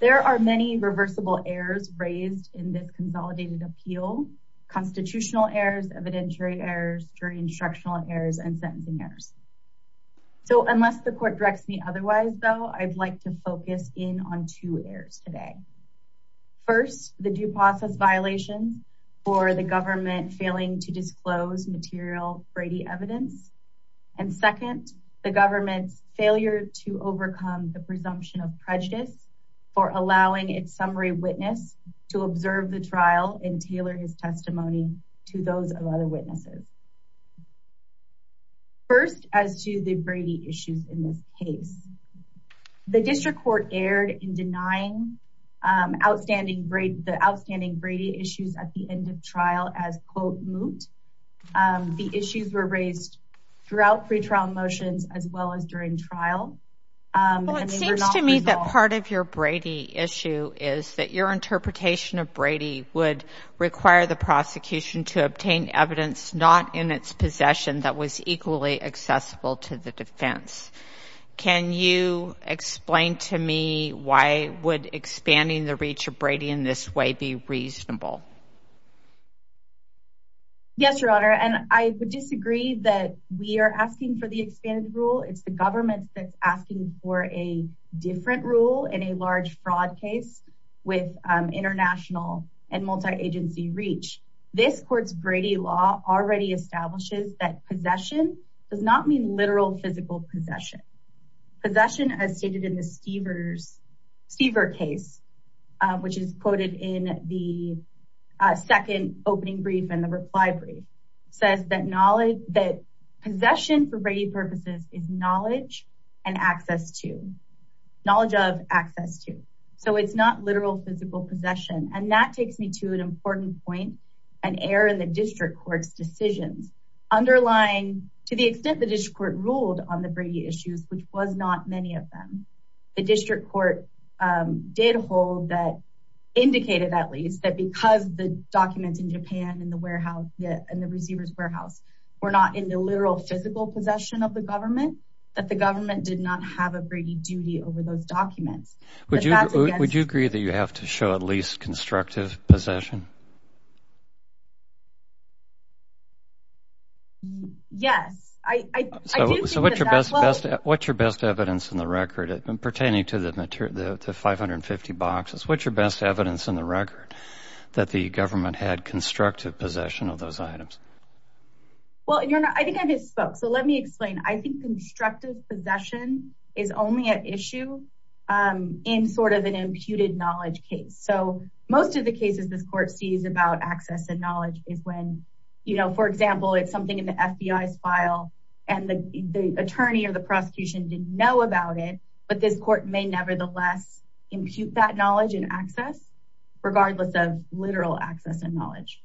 There are many reversible errors raised in this consolidated appeal. Constitutional errors, evidentiary errors, jury instructional errors, and sentencing errors. So unless the court directs me otherwise, though, I'd like to focus in on two errors today. First, the due process violation for the government failing to disclose material Brady evidence. And second, the government's failure to overcome the presumption of prejudice for allowing its summary witness to observe the trial and tailor his testimony to those of other witnesses. First, as to the Brady issues in this case, the district court erred in denying outstanding Brady, the outstanding Brady issues at the end of trial as quote moot. The issues were raised throughout pretrial motions as well as during trial. Well, it seems to me that part of your Brady issue is that your interpretation of Brady would require the prosecution to obtain evidence not in its possession that was equally accessible to the defense. Can you explain to me why would expanding the reach of Brady in this way be reasonable? Yes, Your Honor, and I would disagree that we are asking for the expanded rule. It's government that's asking for a different rule in a large fraud case with international and multi-agency reach. This court's Brady law already establishes that possession does not mean literal physical possession. Possession as stated in the Stever case, which is quoted in the second opening brief and the reply brief, says that possession for Brady purposes is knowledge and access to, knowledge of, access to. So it's not literal physical possession, and that takes me to an important point, an error in the district court's decisions underlying to the extent the district court ruled on the Brady issues, which was not many of them. The district court did hold that, indicated at least, that because the documents in Japan yet in the receiver's warehouse were not in the literal physical possession of the government, that the government did not have a Brady duty over those documents. Would you agree that you have to show at least constructive possession? Yes. So what's your best evidence in the record pertaining to the possession of those items? Well, I think I just spoke. So let me explain. I think constructive possession is only an issue in sort of an imputed knowledge case. So most of the cases this court sees about access and knowledge is when, you know, for example, it's something in the FBI's file and the attorney or the prosecution didn't know about it, but this court may nevertheless impute that knowledge and access regardless of literal access and knowledge.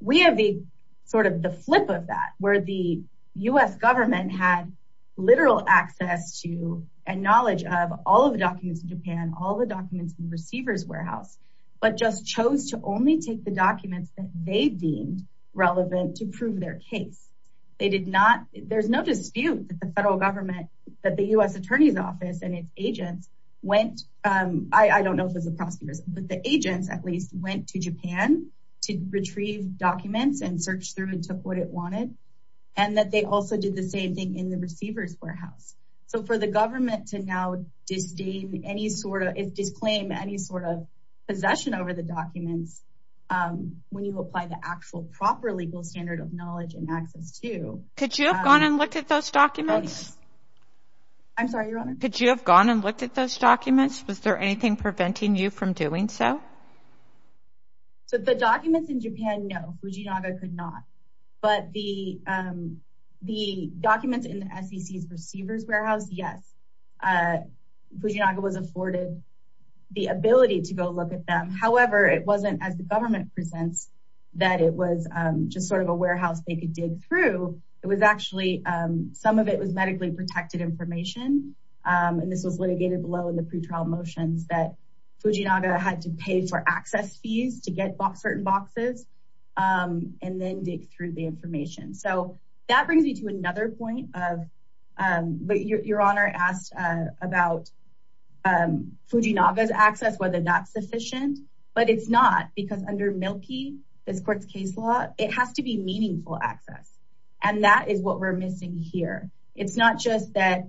We have the sort of the flip of that, where the U.S. government had literal access to and knowledge of all of the documents in Japan, all the documents in the receiver's warehouse, but just chose to only take the documents that they deemed relevant to prove their case. They did not, there's no dispute that the federal government, that the U.S. attorney's office and its agents went, I don't know if it's the prosecutors, but the agents at least went to and searched through and took what it wanted. And that they also did the same thing in the receiver's warehouse. So for the government to now disdain any sort of, disclaim any sort of possession over the documents, when you apply the actual proper legal standard of knowledge and access to. Could you have gone and looked at those documents? I'm sorry, Your Honor. Could you have gone and looked at those documents? Was there anything preventing you from doing so? So the documents in Japan, no, Fujinaga could not. But the documents in the SEC's receiver's warehouse, yes. Fujinaga was afforded the ability to go look at them. However, it wasn't as the government presents that it was just sort of a warehouse they could dig through. It was actually, some of it was medically protected information. And this was litigated below in the pretrial motions that Fujinaga had to pay for access fees to get certain boxes and then dig through the information. So that brings me to another point of, but Your Honor asked about Fujinaga's access, whether that's sufficient, but it's not because under Milkey, this court's case law, it has to be meaningful access. And that is what we're missing here. It's not just that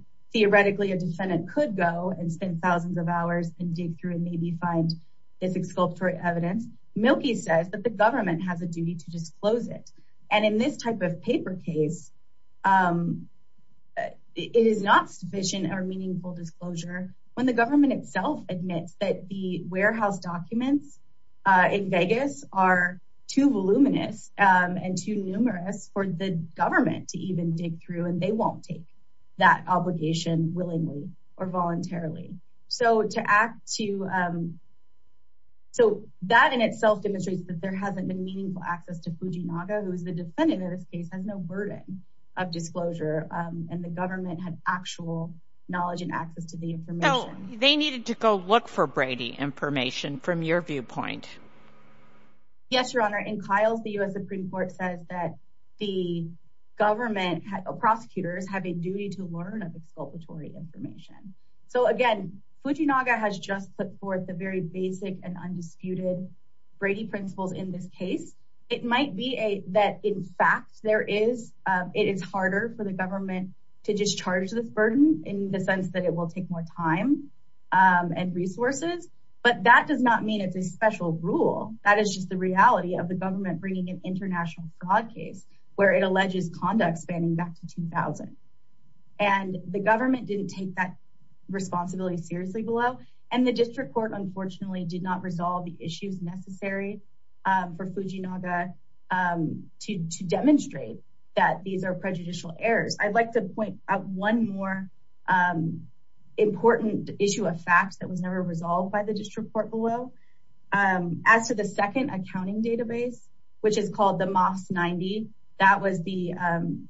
can dig through and maybe find this exculpatory evidence. Milkey says that the government has a duty to disclose it. And in this type of paper case, it is not sufficient or meaningful disclosure when the government itself admits that the warehouse documents in Vegas are too voluminous and too numerous for the government to even dig through. And they won't take that obligation willingly or voluntarily. So that in itself demonstrates that there hasn't been meaningful access to Fujinaga, who is the defendant of this case, has no burden of disclosure. And the government had actual knowledge and access to the information. They needed to go look for Brady information from your viewpoint. Yes, Your Honor. In Kyle's, the U.S. Supreme Court says that the government, prosecutors have a duty to learn of exculpatory information. So again, Fujinaga has just put forth the very basic and undisputed Brady principles in this case. It might be that in fact, it is harder for the government to discharge the burden in the sense that it will take more time and resources, but that does not mean it's a special rule. That is just the reality of the government bringing an international fraud case where it alleges conduct spanning back to 2000. And the government didn't take that responsibility seriously below. And the district court unfortunately did not resolve the issues necessary for Fujinaga to demonstrate that these are prejudicial errors. I'd like to point out one more important issue of facts that was never resolved by the district court below. As to the second accounting database, which is called the MOS 90, that was the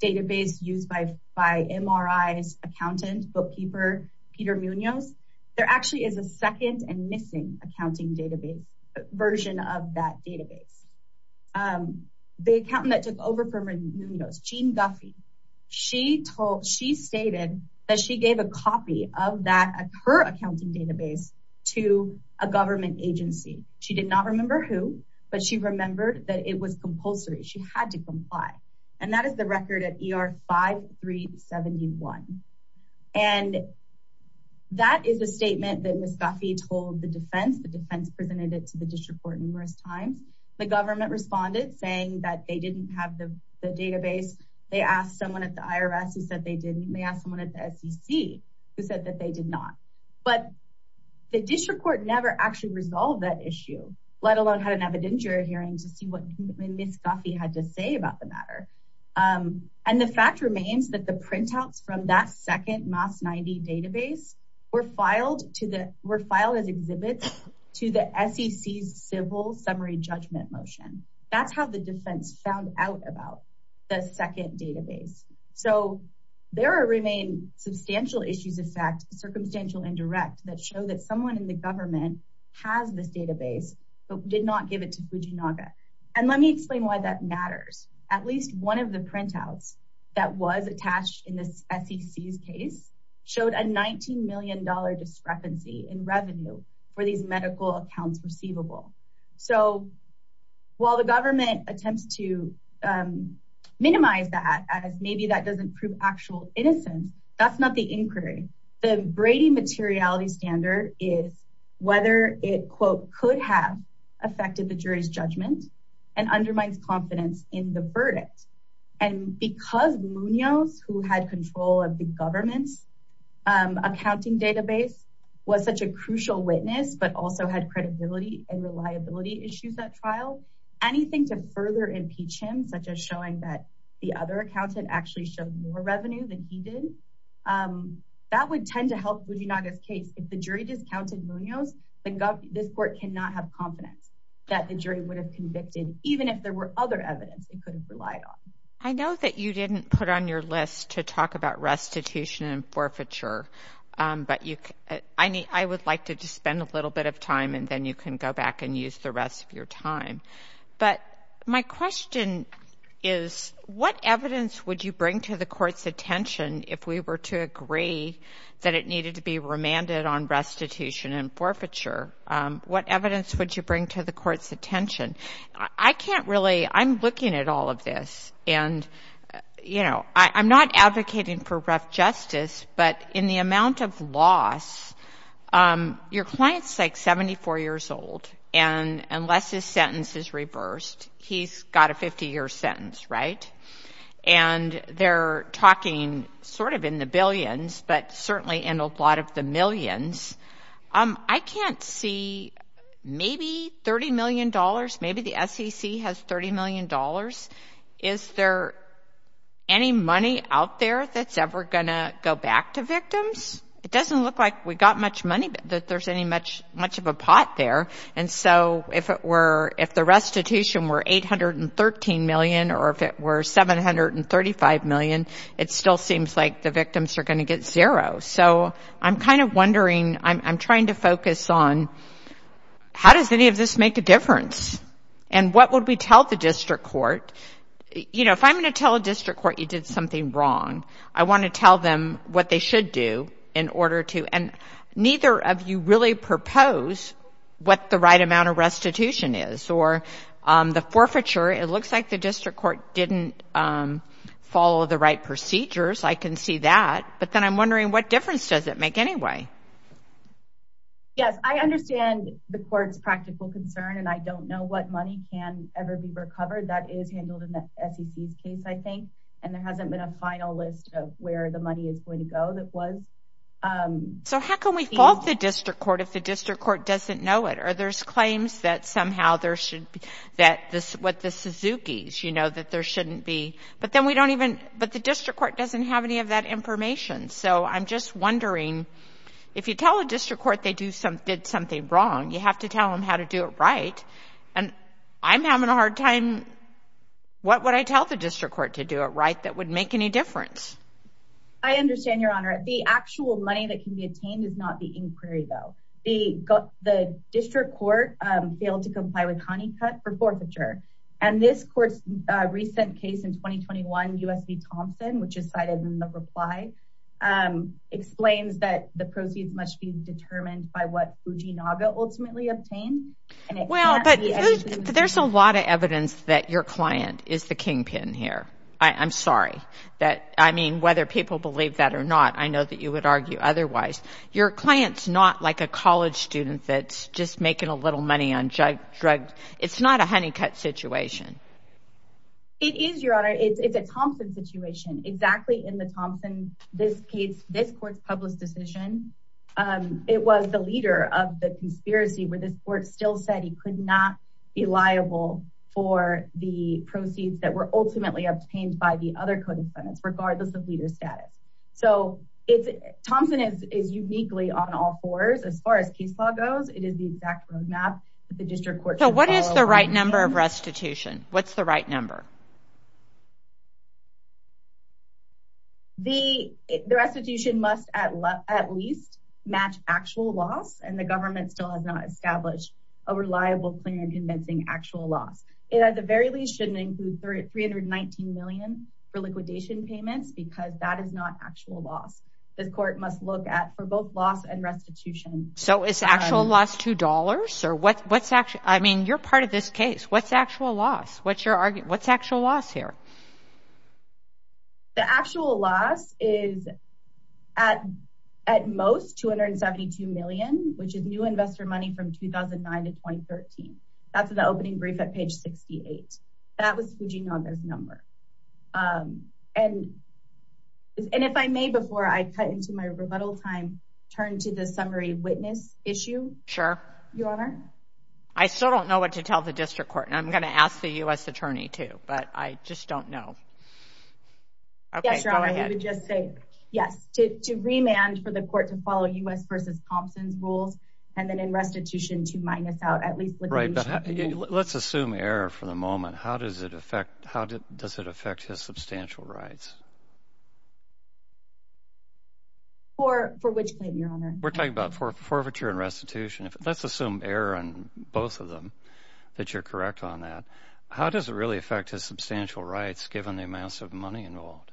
database used by MRI's accountant, bookkeeper, Peter Munoz. There actually is a second and missing accounting database version of that database. The accountant that took over from Munoz, Jean Guffey, she told, she stated that she gave a copy of that, her accounting database to a government agency. She did not remember who, but she remembered that it was compulsory. She had to comply. And that is the record at ER 5371. And that is a statement that Ms. Guffey told the defense, the defense presented it to the district court numerous times. The government responded saying that they didn't have the database. They asked someone at the IRS who said they didn't. They asked someone at the SEC who said that they did not. But the district court never actually resolved that issue, let alone had an evidentiary hearing to see what Ms. Guffey had to say about the matter. And the fact remains that the printouts from that second database were filed as exhibits to the SEC's civil summary judgment motion. That's how the defense found out about the second database. So there remain substantial issues, in fact, circumstantial indirect that show that someone in the government has this database, but did not give it to Fujinaga. And let me explain why that matters. At least one of the printouts that was attached in the SEC's showed a $19 million discrepancy in revenue for these medical accounts receivable. So while the government attempts to minimize that as maybe that doesn't prove actual innocence, that's not the inquiry. The Brady materiality standard is whether it, quote, could have affected the jury's judgment and undermines confidence in the verdict. And because Munoz, who had control of the government's accounting database, was such a crucial witness, but also had credibility and reliability issues at trial, anything to further impeach him, such as showing that the other accountant actually showed more revenue than he did, that would tend to help Fujinaga's case. If the jury discounted Munoz, then this court cannot have confidence that the jury would have convicted, even if there were other evidence they could have relied on. I know that you didn't put on your list to talk about restitution and forfeiture, but I would like to just spend a little bit of time and then you can go back and use the rest of your time. But my question is, what evidence would you bring to the court's attention if we were to agree that it needed to be remanded on restitution and forfeiture? What evidence would you bring to the court's attention? I'm looking at all of this and I'm not advocating for rough justice, but in the amount of loss, your client's like 74 years old and unless his sentence is reversed, he's got a 50-year sentence, right? And they're talking sort of in the billions, but certainly in a lot of the millions. I can't see, maybe $30 million, maybe the SEC has $30 million. Is there any money out there that's ever going to go back to victims? It doesn't look like we got much money, that there's any much of a pot there. And so if the restitution were $813 million or if it were $735 million, it still seems like the victims are going to get zero. So I'm kind of wondering, I'm trying to focus on how does any of this make a difference? And what would we tell the district court? You know, if I'm going to tell a district court you did something wrong, I want to tell them what they should do in order to, and neither of you really propose what the right amount of restitution is. Or the forfeiture, it looks like the district court didn't follow the right procedures. I can see that, but then I'm wondering what difference does it make anyway? Yes, I understand the court's practical concern and I don't know what money can ever be recovered. That is handled in the SEC's case, I think, and there hasn't been a final list of where the money is going to go that was. So how can we fault the district court if the district court doesn't know it? Or there's claims that somehow there should be, that this, what the Suzuki's, you know, that there shouldn't be. But then we don't even, but the district court doesn't have any of that information. So I'm just wondering, if you tell a district court they do some, did something wrong, you have to tell them how to do it right. And I'm having a hard time, what would I tell the district court to do it right that would make any difference? I understand, Your Honor. The actual money that can be attained is not the inquiry, though. The district court failed to comply with Honeycutt for forfeiture. And this court's recent case in 2021, U.S. v. Thompson, which is cited in the reply, explains that the proceeds must be determined by what Fuji Naga ultimately obtained. Well, but there's a lot of evidence that your client is the kingpin here. I'm sorry that, I mean, whether people believe that or not, I know that you would argue otherwise. Your client's not like a college student that's just making a little money on drugs. It's not a Honeycutt situation. It is, Your Honor. It's a Thompson situation, exactly in the Thompson, this case, this court's public decision. It was the leader of the conspiracy where this court still said he could not be liable for the proceeds that were ultimately obtained by the other codependents, regardless of leader status. So Thompson is uniquely on all fours as far as case law goes. It is the exact roadmap that the district court should follow. So what is the right number of restitution? What's the right number? The restitution must at least match actual loss, and the government still has not established a reliable plan convincing actual loss. It at the very least shouldn't include $319 million for liquidation payments because that is not actual loss. This court must look at for both loss and restitution. So is actual loss $2 or what's actual, I mean, you're part of this case. What's actual loss? What's your argument? What's actual loss here? The actual loss is at most $272 million, which is new investor money from 2009 to 2013. That's the opening brief at page 68. That was Fuginaga's number. And if I may, before I cut into my rebuttal time, turn to the summary witness issue. Sure. Your Honor. I still don't know what to tell the district court, and I'm going to ask the U.S. attorney too, but I just don't know. Yes, Your Honor, I would just say yes, to remand for the court to follow U.S. v. Thompson's rules and then in restitution to minus out at least liquidation. Right, but let's assume error for the moment. How does it affect his substantial rights? For which claim, Your Honor? We're talking about forfeiture and restitution. Let's assume error on both of them, that you're correct on that. How does it really affect his substantial rights, given the amounts of money involved?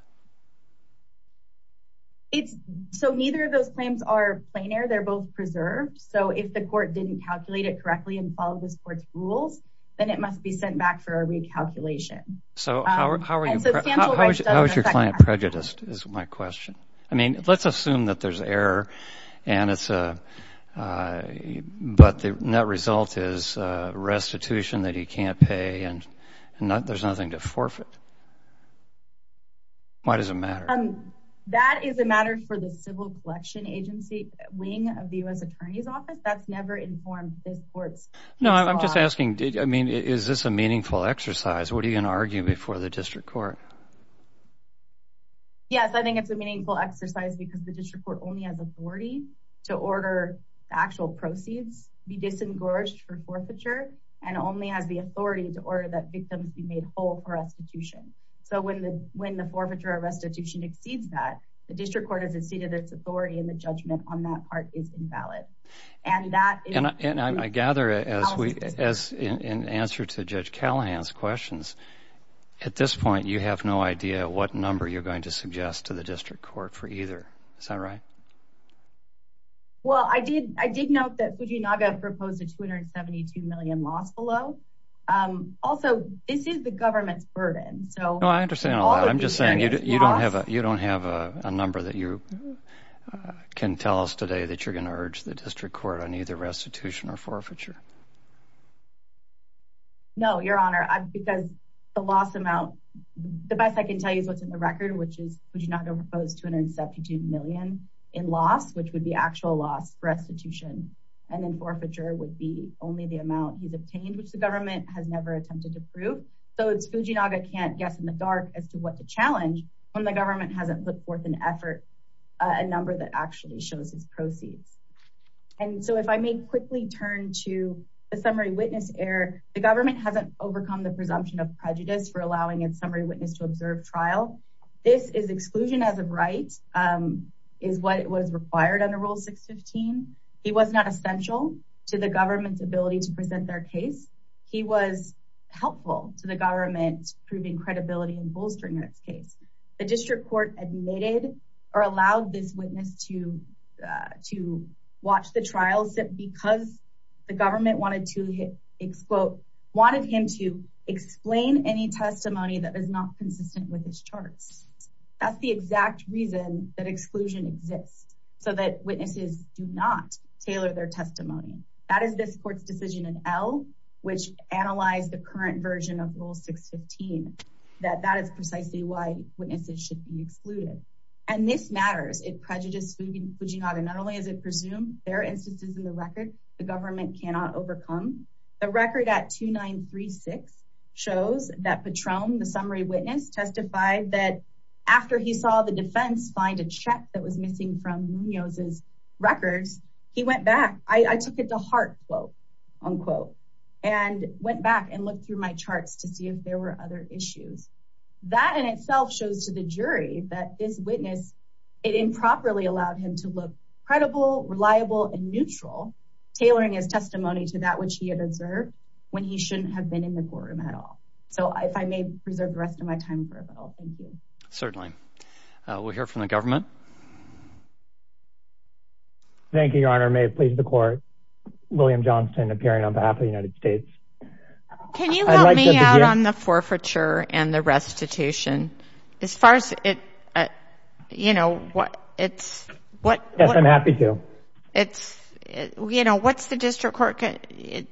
So neither of those claims are planar. They're both preserved. So if the court didn't calculate it correctly and follow this court's rules, then it must be sent back for a recalculation. So how is your client prejudiced, is my question. I mean, let's assume that there's error, but the net result is restitution that he can't pay and there's nothing to forfeit. Why does it matter? That is a matter for the civil collection agency wing of the U.S. attorney's office. That's never informed this court's. No, I'm just asking, I mean, is this a meaningful exercise? What are you going to argue before the district court? Yes, I think it's a meaningful exercise because the district court only has authority to order the actual proceeds be disengorged for forfeiture and only has the authority to order that victims be made whole for restitution. So when the when the forfeiture or restitution exceeds that, the district court has exceeded its authority and the judgment on that part is invalid. And I gather, in answer to Judge Callahan's questions, at this point you have no idea what number you're going to suggest to the district court for either. Is that right? Well, I did. I did note that Fujinaga proposed a 272 million loss below. Also, this is the government's burden. So I understand. I'm just saying you don't have you don't have a number that you can tell us today that you're going to urge the district court on either restitution or forfeiture. No, Your Honor, because the loss amount, the best I can tell you is what's in the record, which is Fujinaga proposed 272 million in loss, which would be actual loss for restitution. And then forfeiture would be only the amount he's obtained, which the government has never attempted to prove. So it's Fujinaga can't guess in the dark as to what the challenge when the government hasn't put forth an effort, a number that actually shows his proceeds. And so if I may quickly turn to the summary witness error, the government hasn't overcome the presumption of prejudice for allowing a summary witness to observe trial. This is exclusion as a right is what was required under Rule 615. He was not essential to the government's ability to present their case. He was helpful to the government proving credibility and bolstering its case. The district court admitted or allowed this witness to to watch the trials because the government wanted to, quote, wanted him to explain any testimony that is not consistent with his charts. That's the exact reason that exclusion exists so that witnesses do not tailor their testimony. That is this court's decision in L, which analyzed the current version of Rule 615, that that is precisely why witnesses should be excluded. And this matters. It prejudiced Fujinaga. Not only is it presumed there are instances in the that Patron, the summary witness, testified that after he saw the defense find a check that was missing from Munoz's records, he went back. I took it to heart, quote, unquote, and went back and looked through my charts to see if there were other issues. That in itself shows to the jury that this witness, it improperly allowed him to look credible, reliable and neutral, tailoring his testimony to the district court. So I may preserve the rest of my time for it, but I'll thank you. Certainly. We'll hear from the government. Thank you, Your Honor. May it please the court, William Johnston, appearing on behalf of the United States. Can you help me out on the forfeiture and the restitution? As far as it, you know, what it's what I'm happy to. It's you know, what's the district court?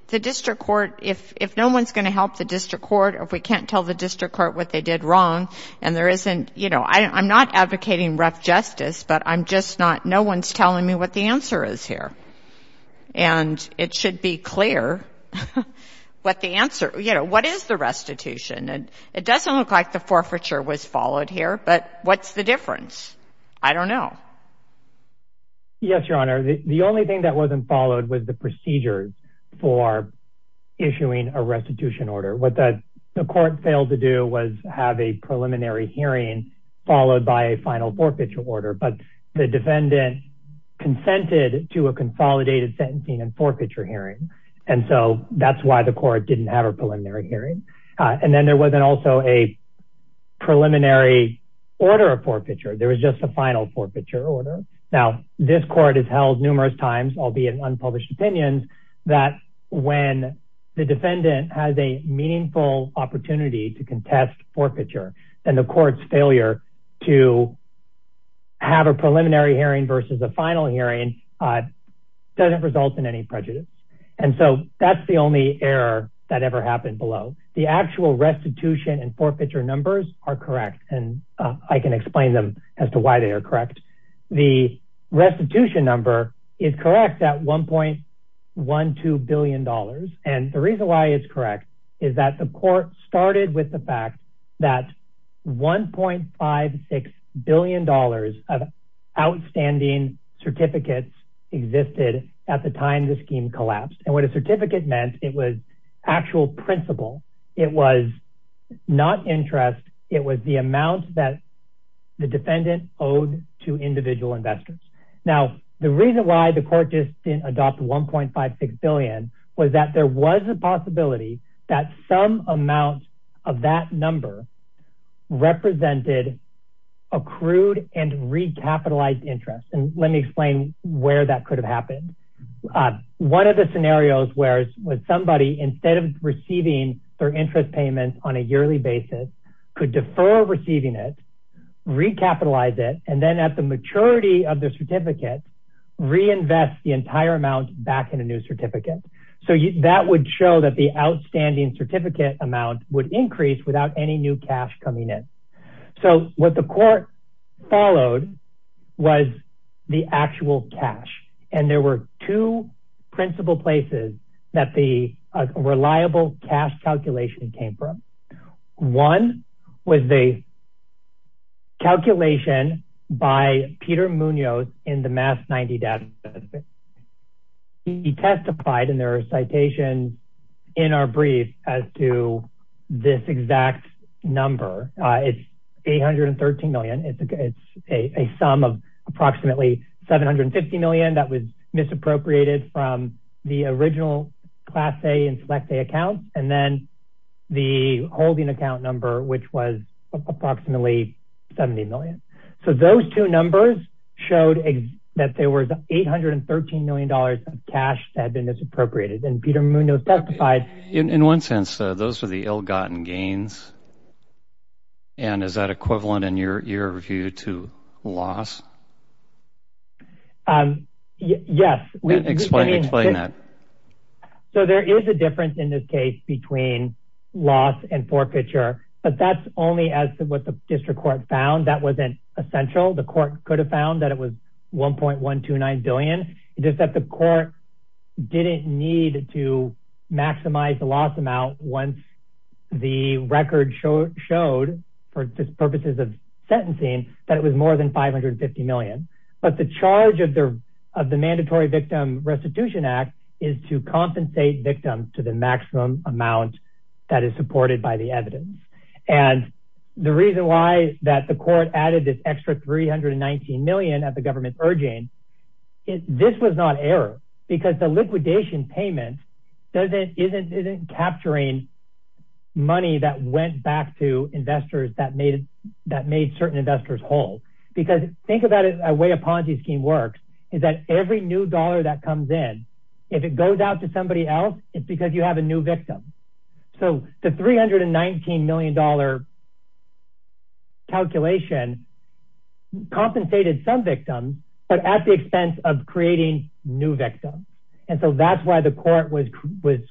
The district court, if if no one's going to help the district court, if we can't tell the district court what they did wrong and there isn't you know, I'm not advocating rough justice, but I'm just not. No one's telling me what the answer is here. And it should be clear what the answer, you know, what is the restitution? And it doesn't look like the forfeiture was followed here. But what's the difference? I don't know. Yes, Your Honor, the only thing that wasn't followed was the procedures for issuing a restitution order. What the court failed to do was have a preliminary hearing, followed by a final forfeiture order. But the defendant consented to a consolidated sentencing and forfeiture hearing. And so that's why the court didn't have a preliminary hearing. And then there wasn't also a preliminary order of forfeiture. There was just a final forfeiture order. Now, this court has held numerous times, albeit in unpublished opinions, that when the defendant has a meaningful opportunity to contest forfeiture, then the court's failure to have a preliminary hearing versus a final hearing doesn't result in any prejudice. And so that's the only error that ever happened below. The actual restitution and forfeiture numbers are correct, and I can explain them as to why they are correct. The restitution number is correct at $1.12 billion. And the reason why it's correct is that the court started with the fact that $1.56 billion of outstanding certificates existed at the time the scheme collapsed. And what a certificate meant, it was actual principle. It was not interest. It was the amount that the defendant owed to individual investors. Now, the reason why the court just didn't adopt $1.56 billion was that there was a possibility that some amount of that number represented accrued and recapitalized interest. And let me explain where that could have happened. One of the scenarios was somebody, instead of receiving their interest payments on a yearly basis, could defer receiving it, recapitalize it, and then at the maturity of the certificate, reinvest the entire amount back in a new certificate. So that would show that the outstanding certificate amount would increase without any new cash coming in. So what the court followed was the actual cash. And there were two principal places that the reliable cash calculation came from. One was the calculation by Peter Munoz in the MAS 90 data. He testified in their citation in our brief as to this exact number. It's $813 million. It's a sum of approximately $750 million that was misappropriated from the original Class A and Select A accounts, and then the holding account number, which was approximately $70 million. So those two numbers showed that there was $813 million of cash that had been misappropriated. And Peter Munoz testified... In one sense, those were the ill-gotten gains. And is that equivalent in your view to loss? Yes. Explain that. So there is a difference in this case between loss and forfeiture, but that's only as to what the district court found. That wasn't essential. The court could have found that it was $1.129 billion. It's just that the court didn't need to maximize the loss amount once the record showed, for purposes of sentencing, that it was more than $550 million. But the charge of the Mandatory Victim Restitution Act is to amount that is supported by the evidence. And the reason why that the court added this extra $319 million at the government's urging, this was not error, because the liquidation payment isn't capturing money that went back to investors that made certain investors whole. Because think about it the way a Ponzi scheme works, is that every new dollar that comes in, if it goes out to somebody else, it's because you have a new victim. So the $319 million calculation compensated some victims, but at the expense of creating new victims. And so that's why the court was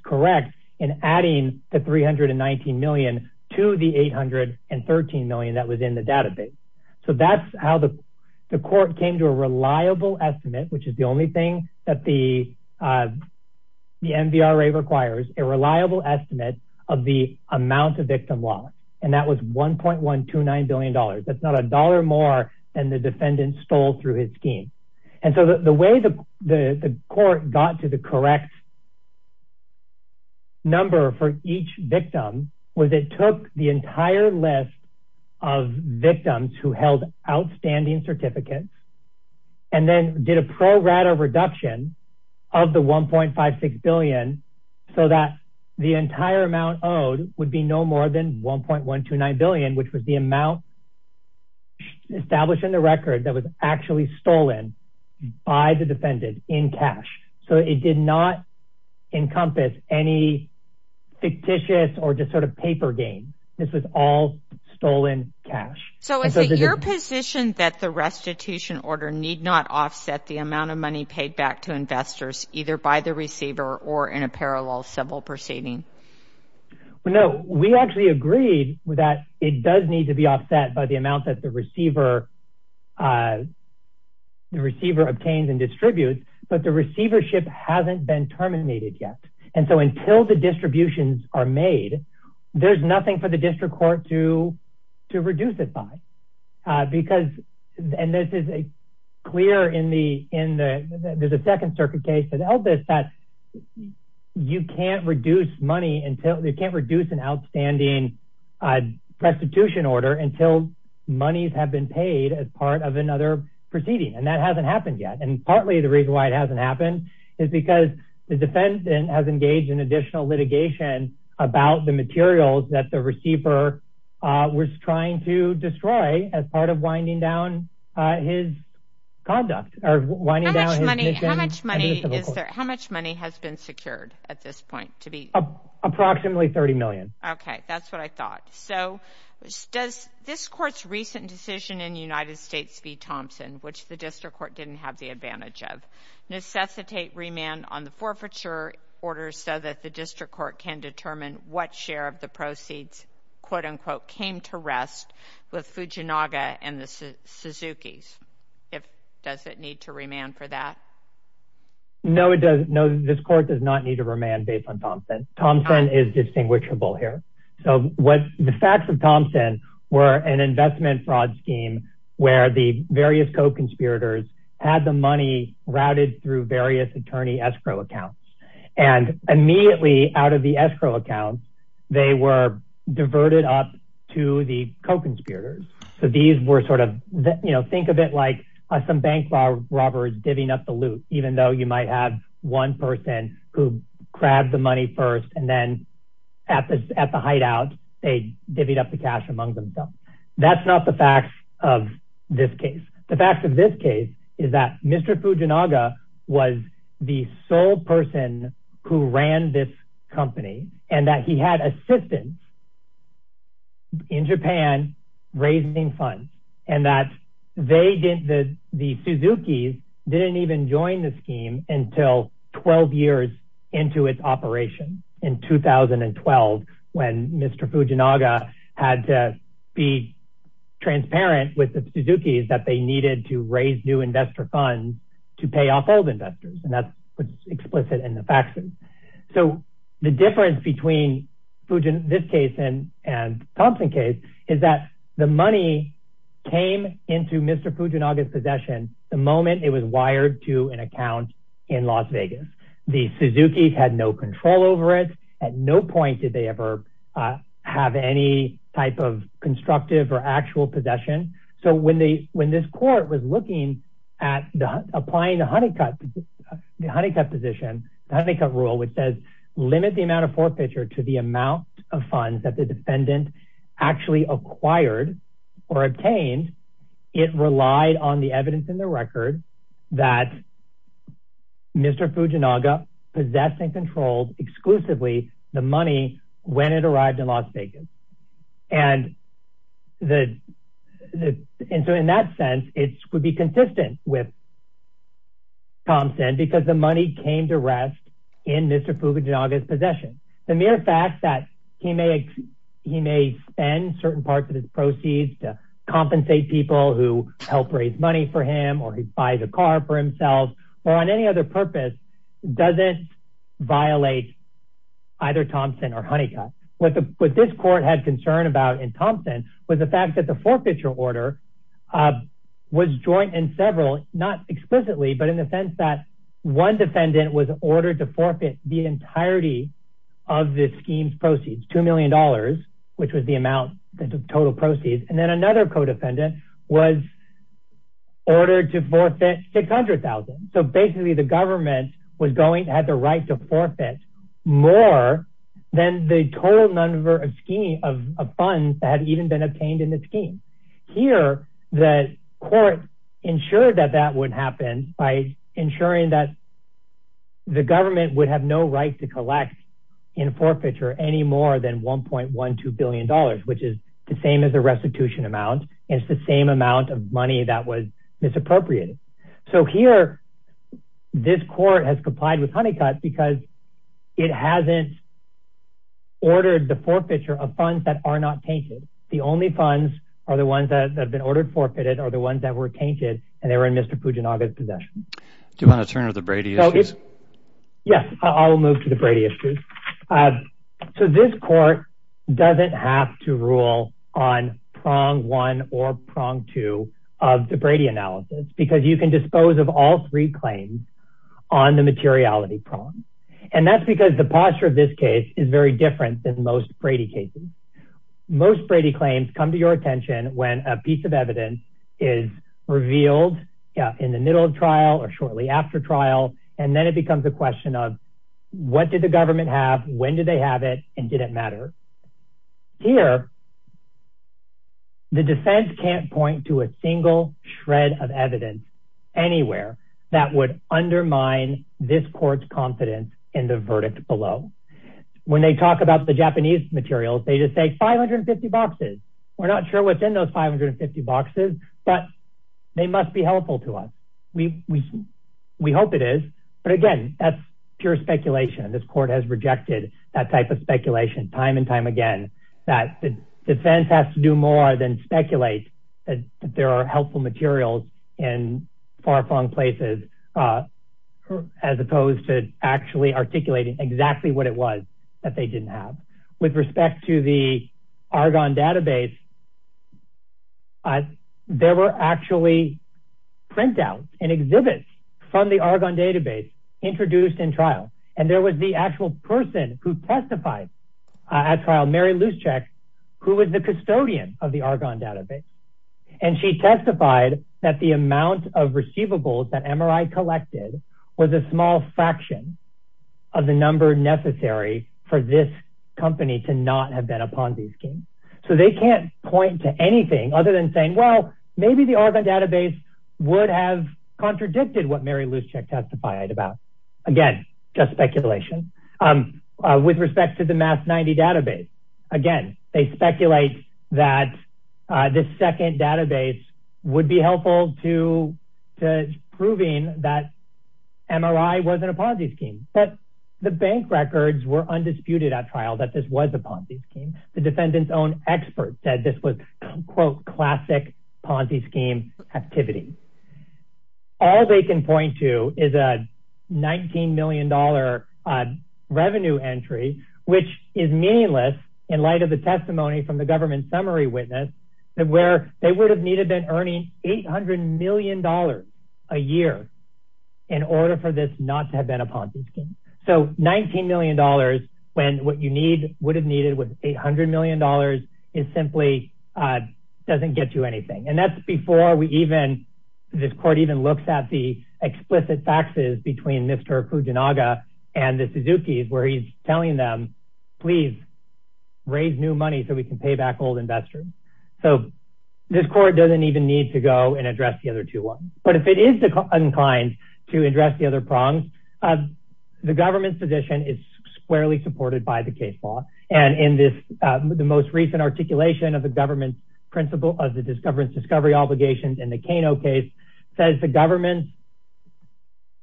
correct in adding the $319 million to the $813 million that was in the database. So that's how the court came to a reliable estimate, which is the only thing that the MVRA requires, a reliable estimate of the amount of victim loss. And that was $1.129 billion. That's not a dollar more than the defendant stole through his scheme. And so the way the court got to the correct number for each victim, was it took the entire list of victims who held outstanding certificates, and then did a pro rata reduction of the $1.56 billion, so that the entire amount owed would be no more than $1.129 billion, which was the amount established in the record that was actually stolen by the defendant in cash. So it did not So is it your position that the restitution order need not offset the amount of money paid back to investors, either by the receiver or in a parallel civil proceeding? Well, no, we actually agreed that it does need to be offset by the amount that the receiver obtains and distributes, but the receivership hasn't been terminated yet. And so until the to reduce it by, because, and this is a clear in the, in the, there's a second circuit case that Elvis that you can't reduce money until they can't reduce an outstanding restitution order until monies have been paid as part of another proceeding. And that hasn't happened yet. And partly the reason why it hasn't happened is because the defendant has engaged in trying to destroy as part of winding down his conduct. How much money has been secured at this point? Approximately $30 million. Okay, that's what I thought. So does this court's recent decision in the United States v. Thompson, which the district court didn't have the advantage of, necessitate remand on the forfeiture orders so that the district court can determine what share of the proceeds, quote unquote, came to rest with Fujinaga and the Suzuki's? If, does it need to remand for that? No, it doesn't. No, this court does not need to remand based on Thompson. Thompson is distinguishable here. So what the facts of Thompson were an investment fraud scheme, where the various co-conspirators had the money routed through various attorney escrow accounts. And immediately out of the escrow accounts, they were diverted up to the co-conspirators. So these were sort of, you know, think of it like some bank robbers divvying up the loot, even though you might have one person who grabbed the money first, and then at the hideout, they divvied up the cash among themselves. That's not the facts of this case. The facts of this case is that Mr. Fujinaga was the sole person who ran this company and that he had assistants in Japan raising funds. And that they didn't, the Suzuki's didn't even join the scheme until 12 years into its operation in 2012, when Mr. Fujinaga had to be transparent with the Suzuki's that they needed to raise new investor funds to pay off old investors. And that's what's explicit in the facts. So the difference between this case and Thompson case is that the money came into Mr. Fujinaga's possession the moment it was wired to an account in Las Vegas. The Suzuki's had no control over it. At no point did they ever have any type of constructive or actual possession. So when this court was looking at applying the Honeycutt position, the Honeycutt rule, which says limit the amount of forfeiture to the amount of funds that the defendant actually acquired or obtained, it relied on the evidence in the record that Mr. Fujinaga possessed and controlled exclusively the money when it arrived in Las Vegas. And so in that sense, it would be consistent with Thompson because the money came to rest in Mr. Fujinaga's possession. The mere fact that he may spend certain parts of his proceeds to compensate people who helped raise money for him or he buys a car for himself or on any other purpose doesn't violate either Thompson or Honeycutt. What this court had concern about in Thompson was the fact that the forfeiture order was joint in several, not explicitly, but in the sense that one defendant was ordered to forfeit the entirety of the scheme's proceeds, $2 million, which was the amount, the total proceeds. And then another co-defendant was ordered to forfeit $600,000. So basically the government had the right to forfeit more than the total number of funds that had even been obtained in the scheme. Here, the court ensured that that would happen by ensuring that the government would have no right to collect in forfeiture any more than $1.12 billion, which is the same as the restitution amount. It's the same amount of money that was misappropriated. So here this court has complied with Honeycutt because it hasn't ordered the forfeiture of funds that are not tainted. The only funds are the ones that have been ordered forfeited or the ones that were tainted and they were in Mr. Fujinaga's possession. Do you want to turn to the Brady issues? Yes, I'll move to the Brady issues. So this court doesn't have to rule on prong one or prong two of the Brady analysis because you can dispose of all three claims on the materiality prong. And that's because the posture of this case is very different than most Brady cases. Most Brady claims come to your attention when a piece of evidence is revealed in the middle of trial and then it becomes a question of what did the government have, when did they have it, and did it matter? Here the defense can't point to a single shred of evidence anywhere that would undermine this court's confidence in the verdict below. When they talk about the Japanese materials they just say 550 boxes. We're not sure what's in those 550 boxes, but they must be helpful to us. We hope it is, but again that's pure speculation. This court has rejected that type of speculation time and time again that the defense has to do more than speculate that there are helpful materials in far-flung places as opposed to actually articulating exactly what it was that they and exhibits from the Argonne database introduced in trial. And there was the actual person who testified at trial, Mary Luszczak, who was the custodian of the Argonne database. And she testified that the amount of receivables that MRI collected was a small fraction of the number necessary for this company to not have been a Ponzi scheme. So they can't point to contradicted what Mary Luszczak testified about. Again, just speculation. With respect to the MAS 90 database, again, they speculate that this second database would be helpful to proving that MRI wasn't a Ponzi scheme. But the bank records were undisputed at trial that this was a Ponzi scheme. The defendant's own expert said this was quote classic Ponzi scheme activity. All they can point to is a $19 million revenue entry, which is meaningless in light of the testimony from the government summary witness where they would have needed been earning $800 million a year in order for this not to have been a Ponzi scheme. So $19 million when what you need would have needed was $800 million, it simply doesn't get you anything. And that's before we this court even looks at the explicit faxes between Mr. Fujinaga and the Suzuki's where he's telling them, please raise new money so we can pay back old investors. So this court doesn't even need to go and address the other two ones. But if it is inclined to address the other prongs, the government's position is squarely supported by the case law. And in this, the most recent articulation of the government's principle of the discovery obligations in the Kano case says the government's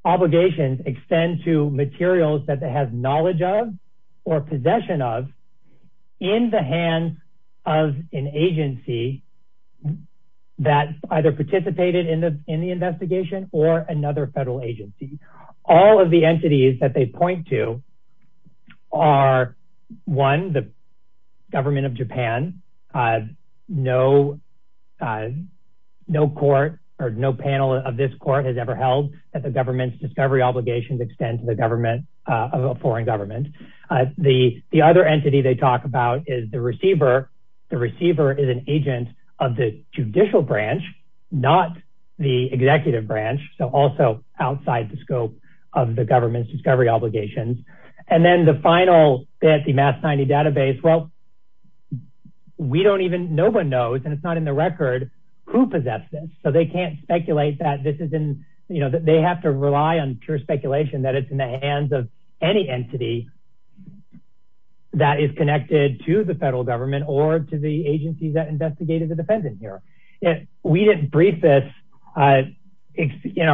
obligations extend to materials that they have knowledge of or possession of in the hands of an agency that either participated in the investigation or another federal agency. All of the entities that they point to are one, the government of Japan, no court or no panel of this court has ever held that the government's discovery obligations extend to the government of a foreign government. The other entity they talk about is the receiver. The receiver is an agent of the judicial branch, not the executive branch. So also outside the scope of the government's discovery obligations. And then the final fancy math tiny database. Well, we don't even know one knows and it's not in the record who possesses it. So they can't speculate that this isn't you know, that they have to rely on pure speculation that it's in the hands of any entity that is connected to the federal government or to the agency that investigated the defendant here. We didn't brief this in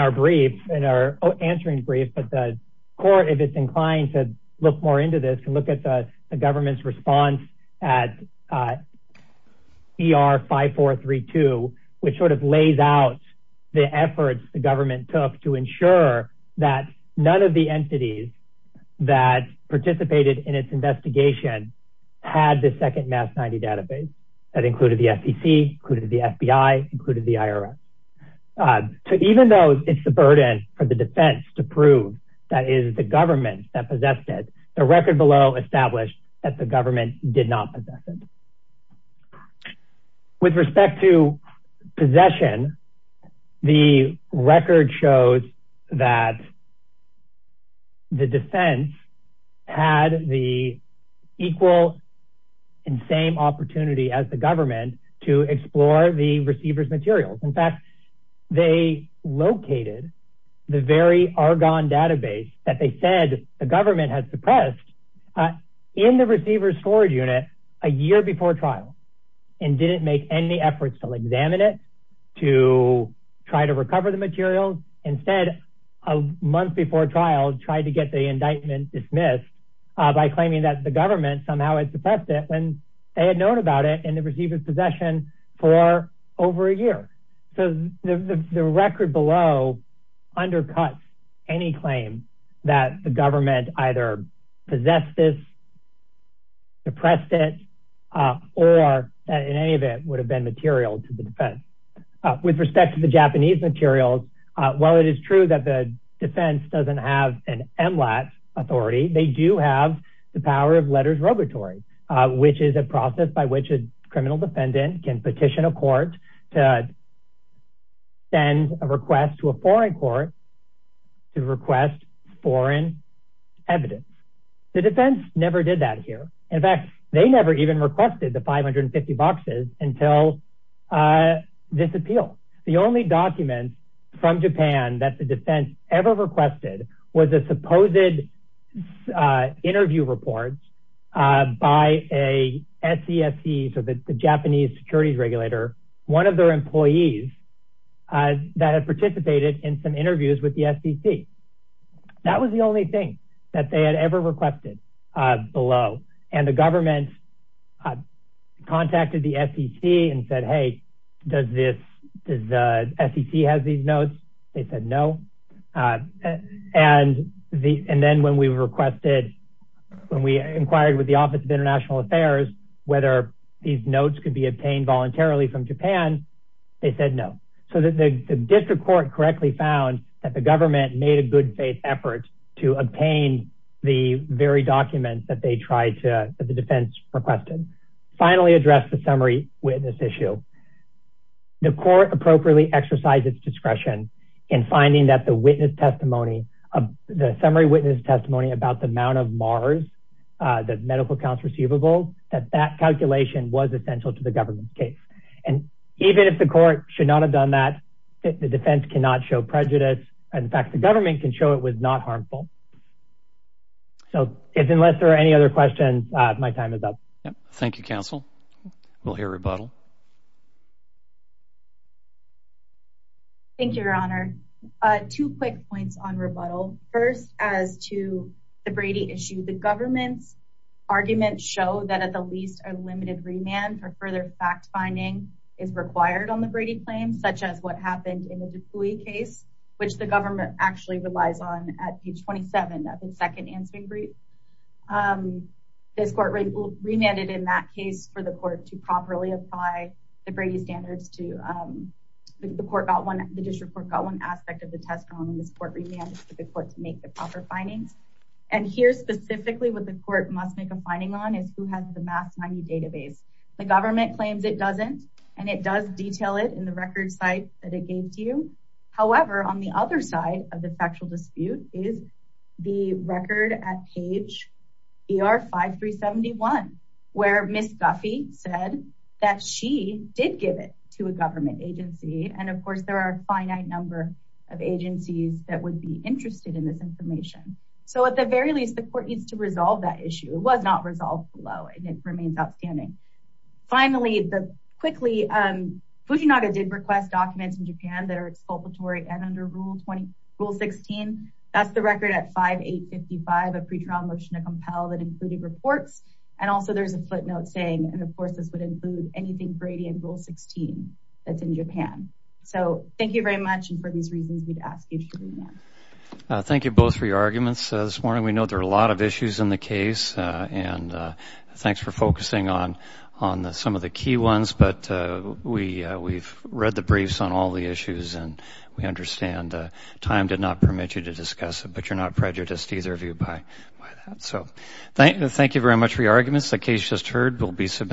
our brief, in our answering brief, but the court, if it's inclined to look more into this and look at the government's response at ER 5432, which sort of lays out the efforts the government took to ensure that none of the entities that participated in its investigation had the second mass 90 database that included the FTC, included the FBI, included the IRS. So even though it's the burden for the defense to prove that is the government that possessed it, the record below established that the government did not possess it. So with respect to possession, the record shows that the defense had the equal and same opportunity as the government to explore the receiver's materials. In fact, they located the very Argonne database that they said the government has suppressed in the receiver's unit a year before trial, and didn't make any efforts to examine it, to try to recover the materials. Instead, a month before trial, tried to get the indictment dismissed by claiming that the government somehow had suppressed it when they had known about it in the receiver's possession for over a year. So the record below undercuts any claim that the government either possessed this or suppressed it, or in any event, would have been material to the defense. With respect to the Japanese materials, while it is true that the defense doesn't have an MLAT authority, they do have the power of letters robatory, which is a process by which a criminal defendant can petition a court to send a request to a foreign court to request foreign evidence. The defense never did that here. In fact, they never even requested the 550 boxes until this appeal. The only document from Japan that the defense ever requested was a supposed interview report by a SESC, so the Japanese securities regulator, one of their employees that had participated in some and the government contacted the SEC and said, hey, does the SEC have these notes? They said no. And then when we inquired with the office of international affairs, whether these notes could be obtained voluntarily from Japan, they said no. So the district court correctly found that the government made a good faith effort to obtain the very documents that the defense requested. Finally address the summary witness issue. The court appropriately exercised its discretion in finding that the summary witness testimony about the mount of Mars, the medical counts receivable, that that calculation was essential to the government's case. And even if the court should not have done that, the defense cannot show prejudice. In fact, the government can show it was not harmful. So if unless there are any other questions, my time is up. Thank you, counsel. We'll hear rebuttal. Thank you, your honor. Two quick points on rebuttal. First, as to the Brady issue, the government's arguments show that at the least a limited remand for further fact finding is required on the Brady claim, such as what happened in the case, which the government actually relies on at page 27, that the second answering brief this court remanded in that case for the court to properly apply the Brady standards to the court about when the district court got one aspect of the test on this court remanded to the court to make the proper findings. And here, specifically, what the court must make a finding on is who has the math database. The government claims it doesn't, and it does detail it in the record site that it gave to you. However, on the other side of the factual dispute is the record at page ER 5371, where Ms. Guffey said that she did give it to a government agency. And of course, there are a finite number of agencies that would be interested in this information. So at the very least, the court needs to resolve that issue. It was not resolved below, and it remains outstanding. Finally, quickly, Fujinaga did request documents in Japan that are exculpatory and under Rule 16. That's the record at 5855, a pretrial motion to compel that included reports. And also, there's a footnote saying, and of course, this would include anything Brady and Rule 16 that's in Japan. So thank you very much, and for these reasons, we'd ask you to leave now. Thank you both for your arguments this morning. We know there are a lot of issues in the case, and thanks for focusing on some of the key ones. But we've read the briefs on all the issues, and we understand time did not permit you to discuss it, but you're not prejudiced either of you by that. So thank you very much for your arguments. The case just heard will be assessed in the morning.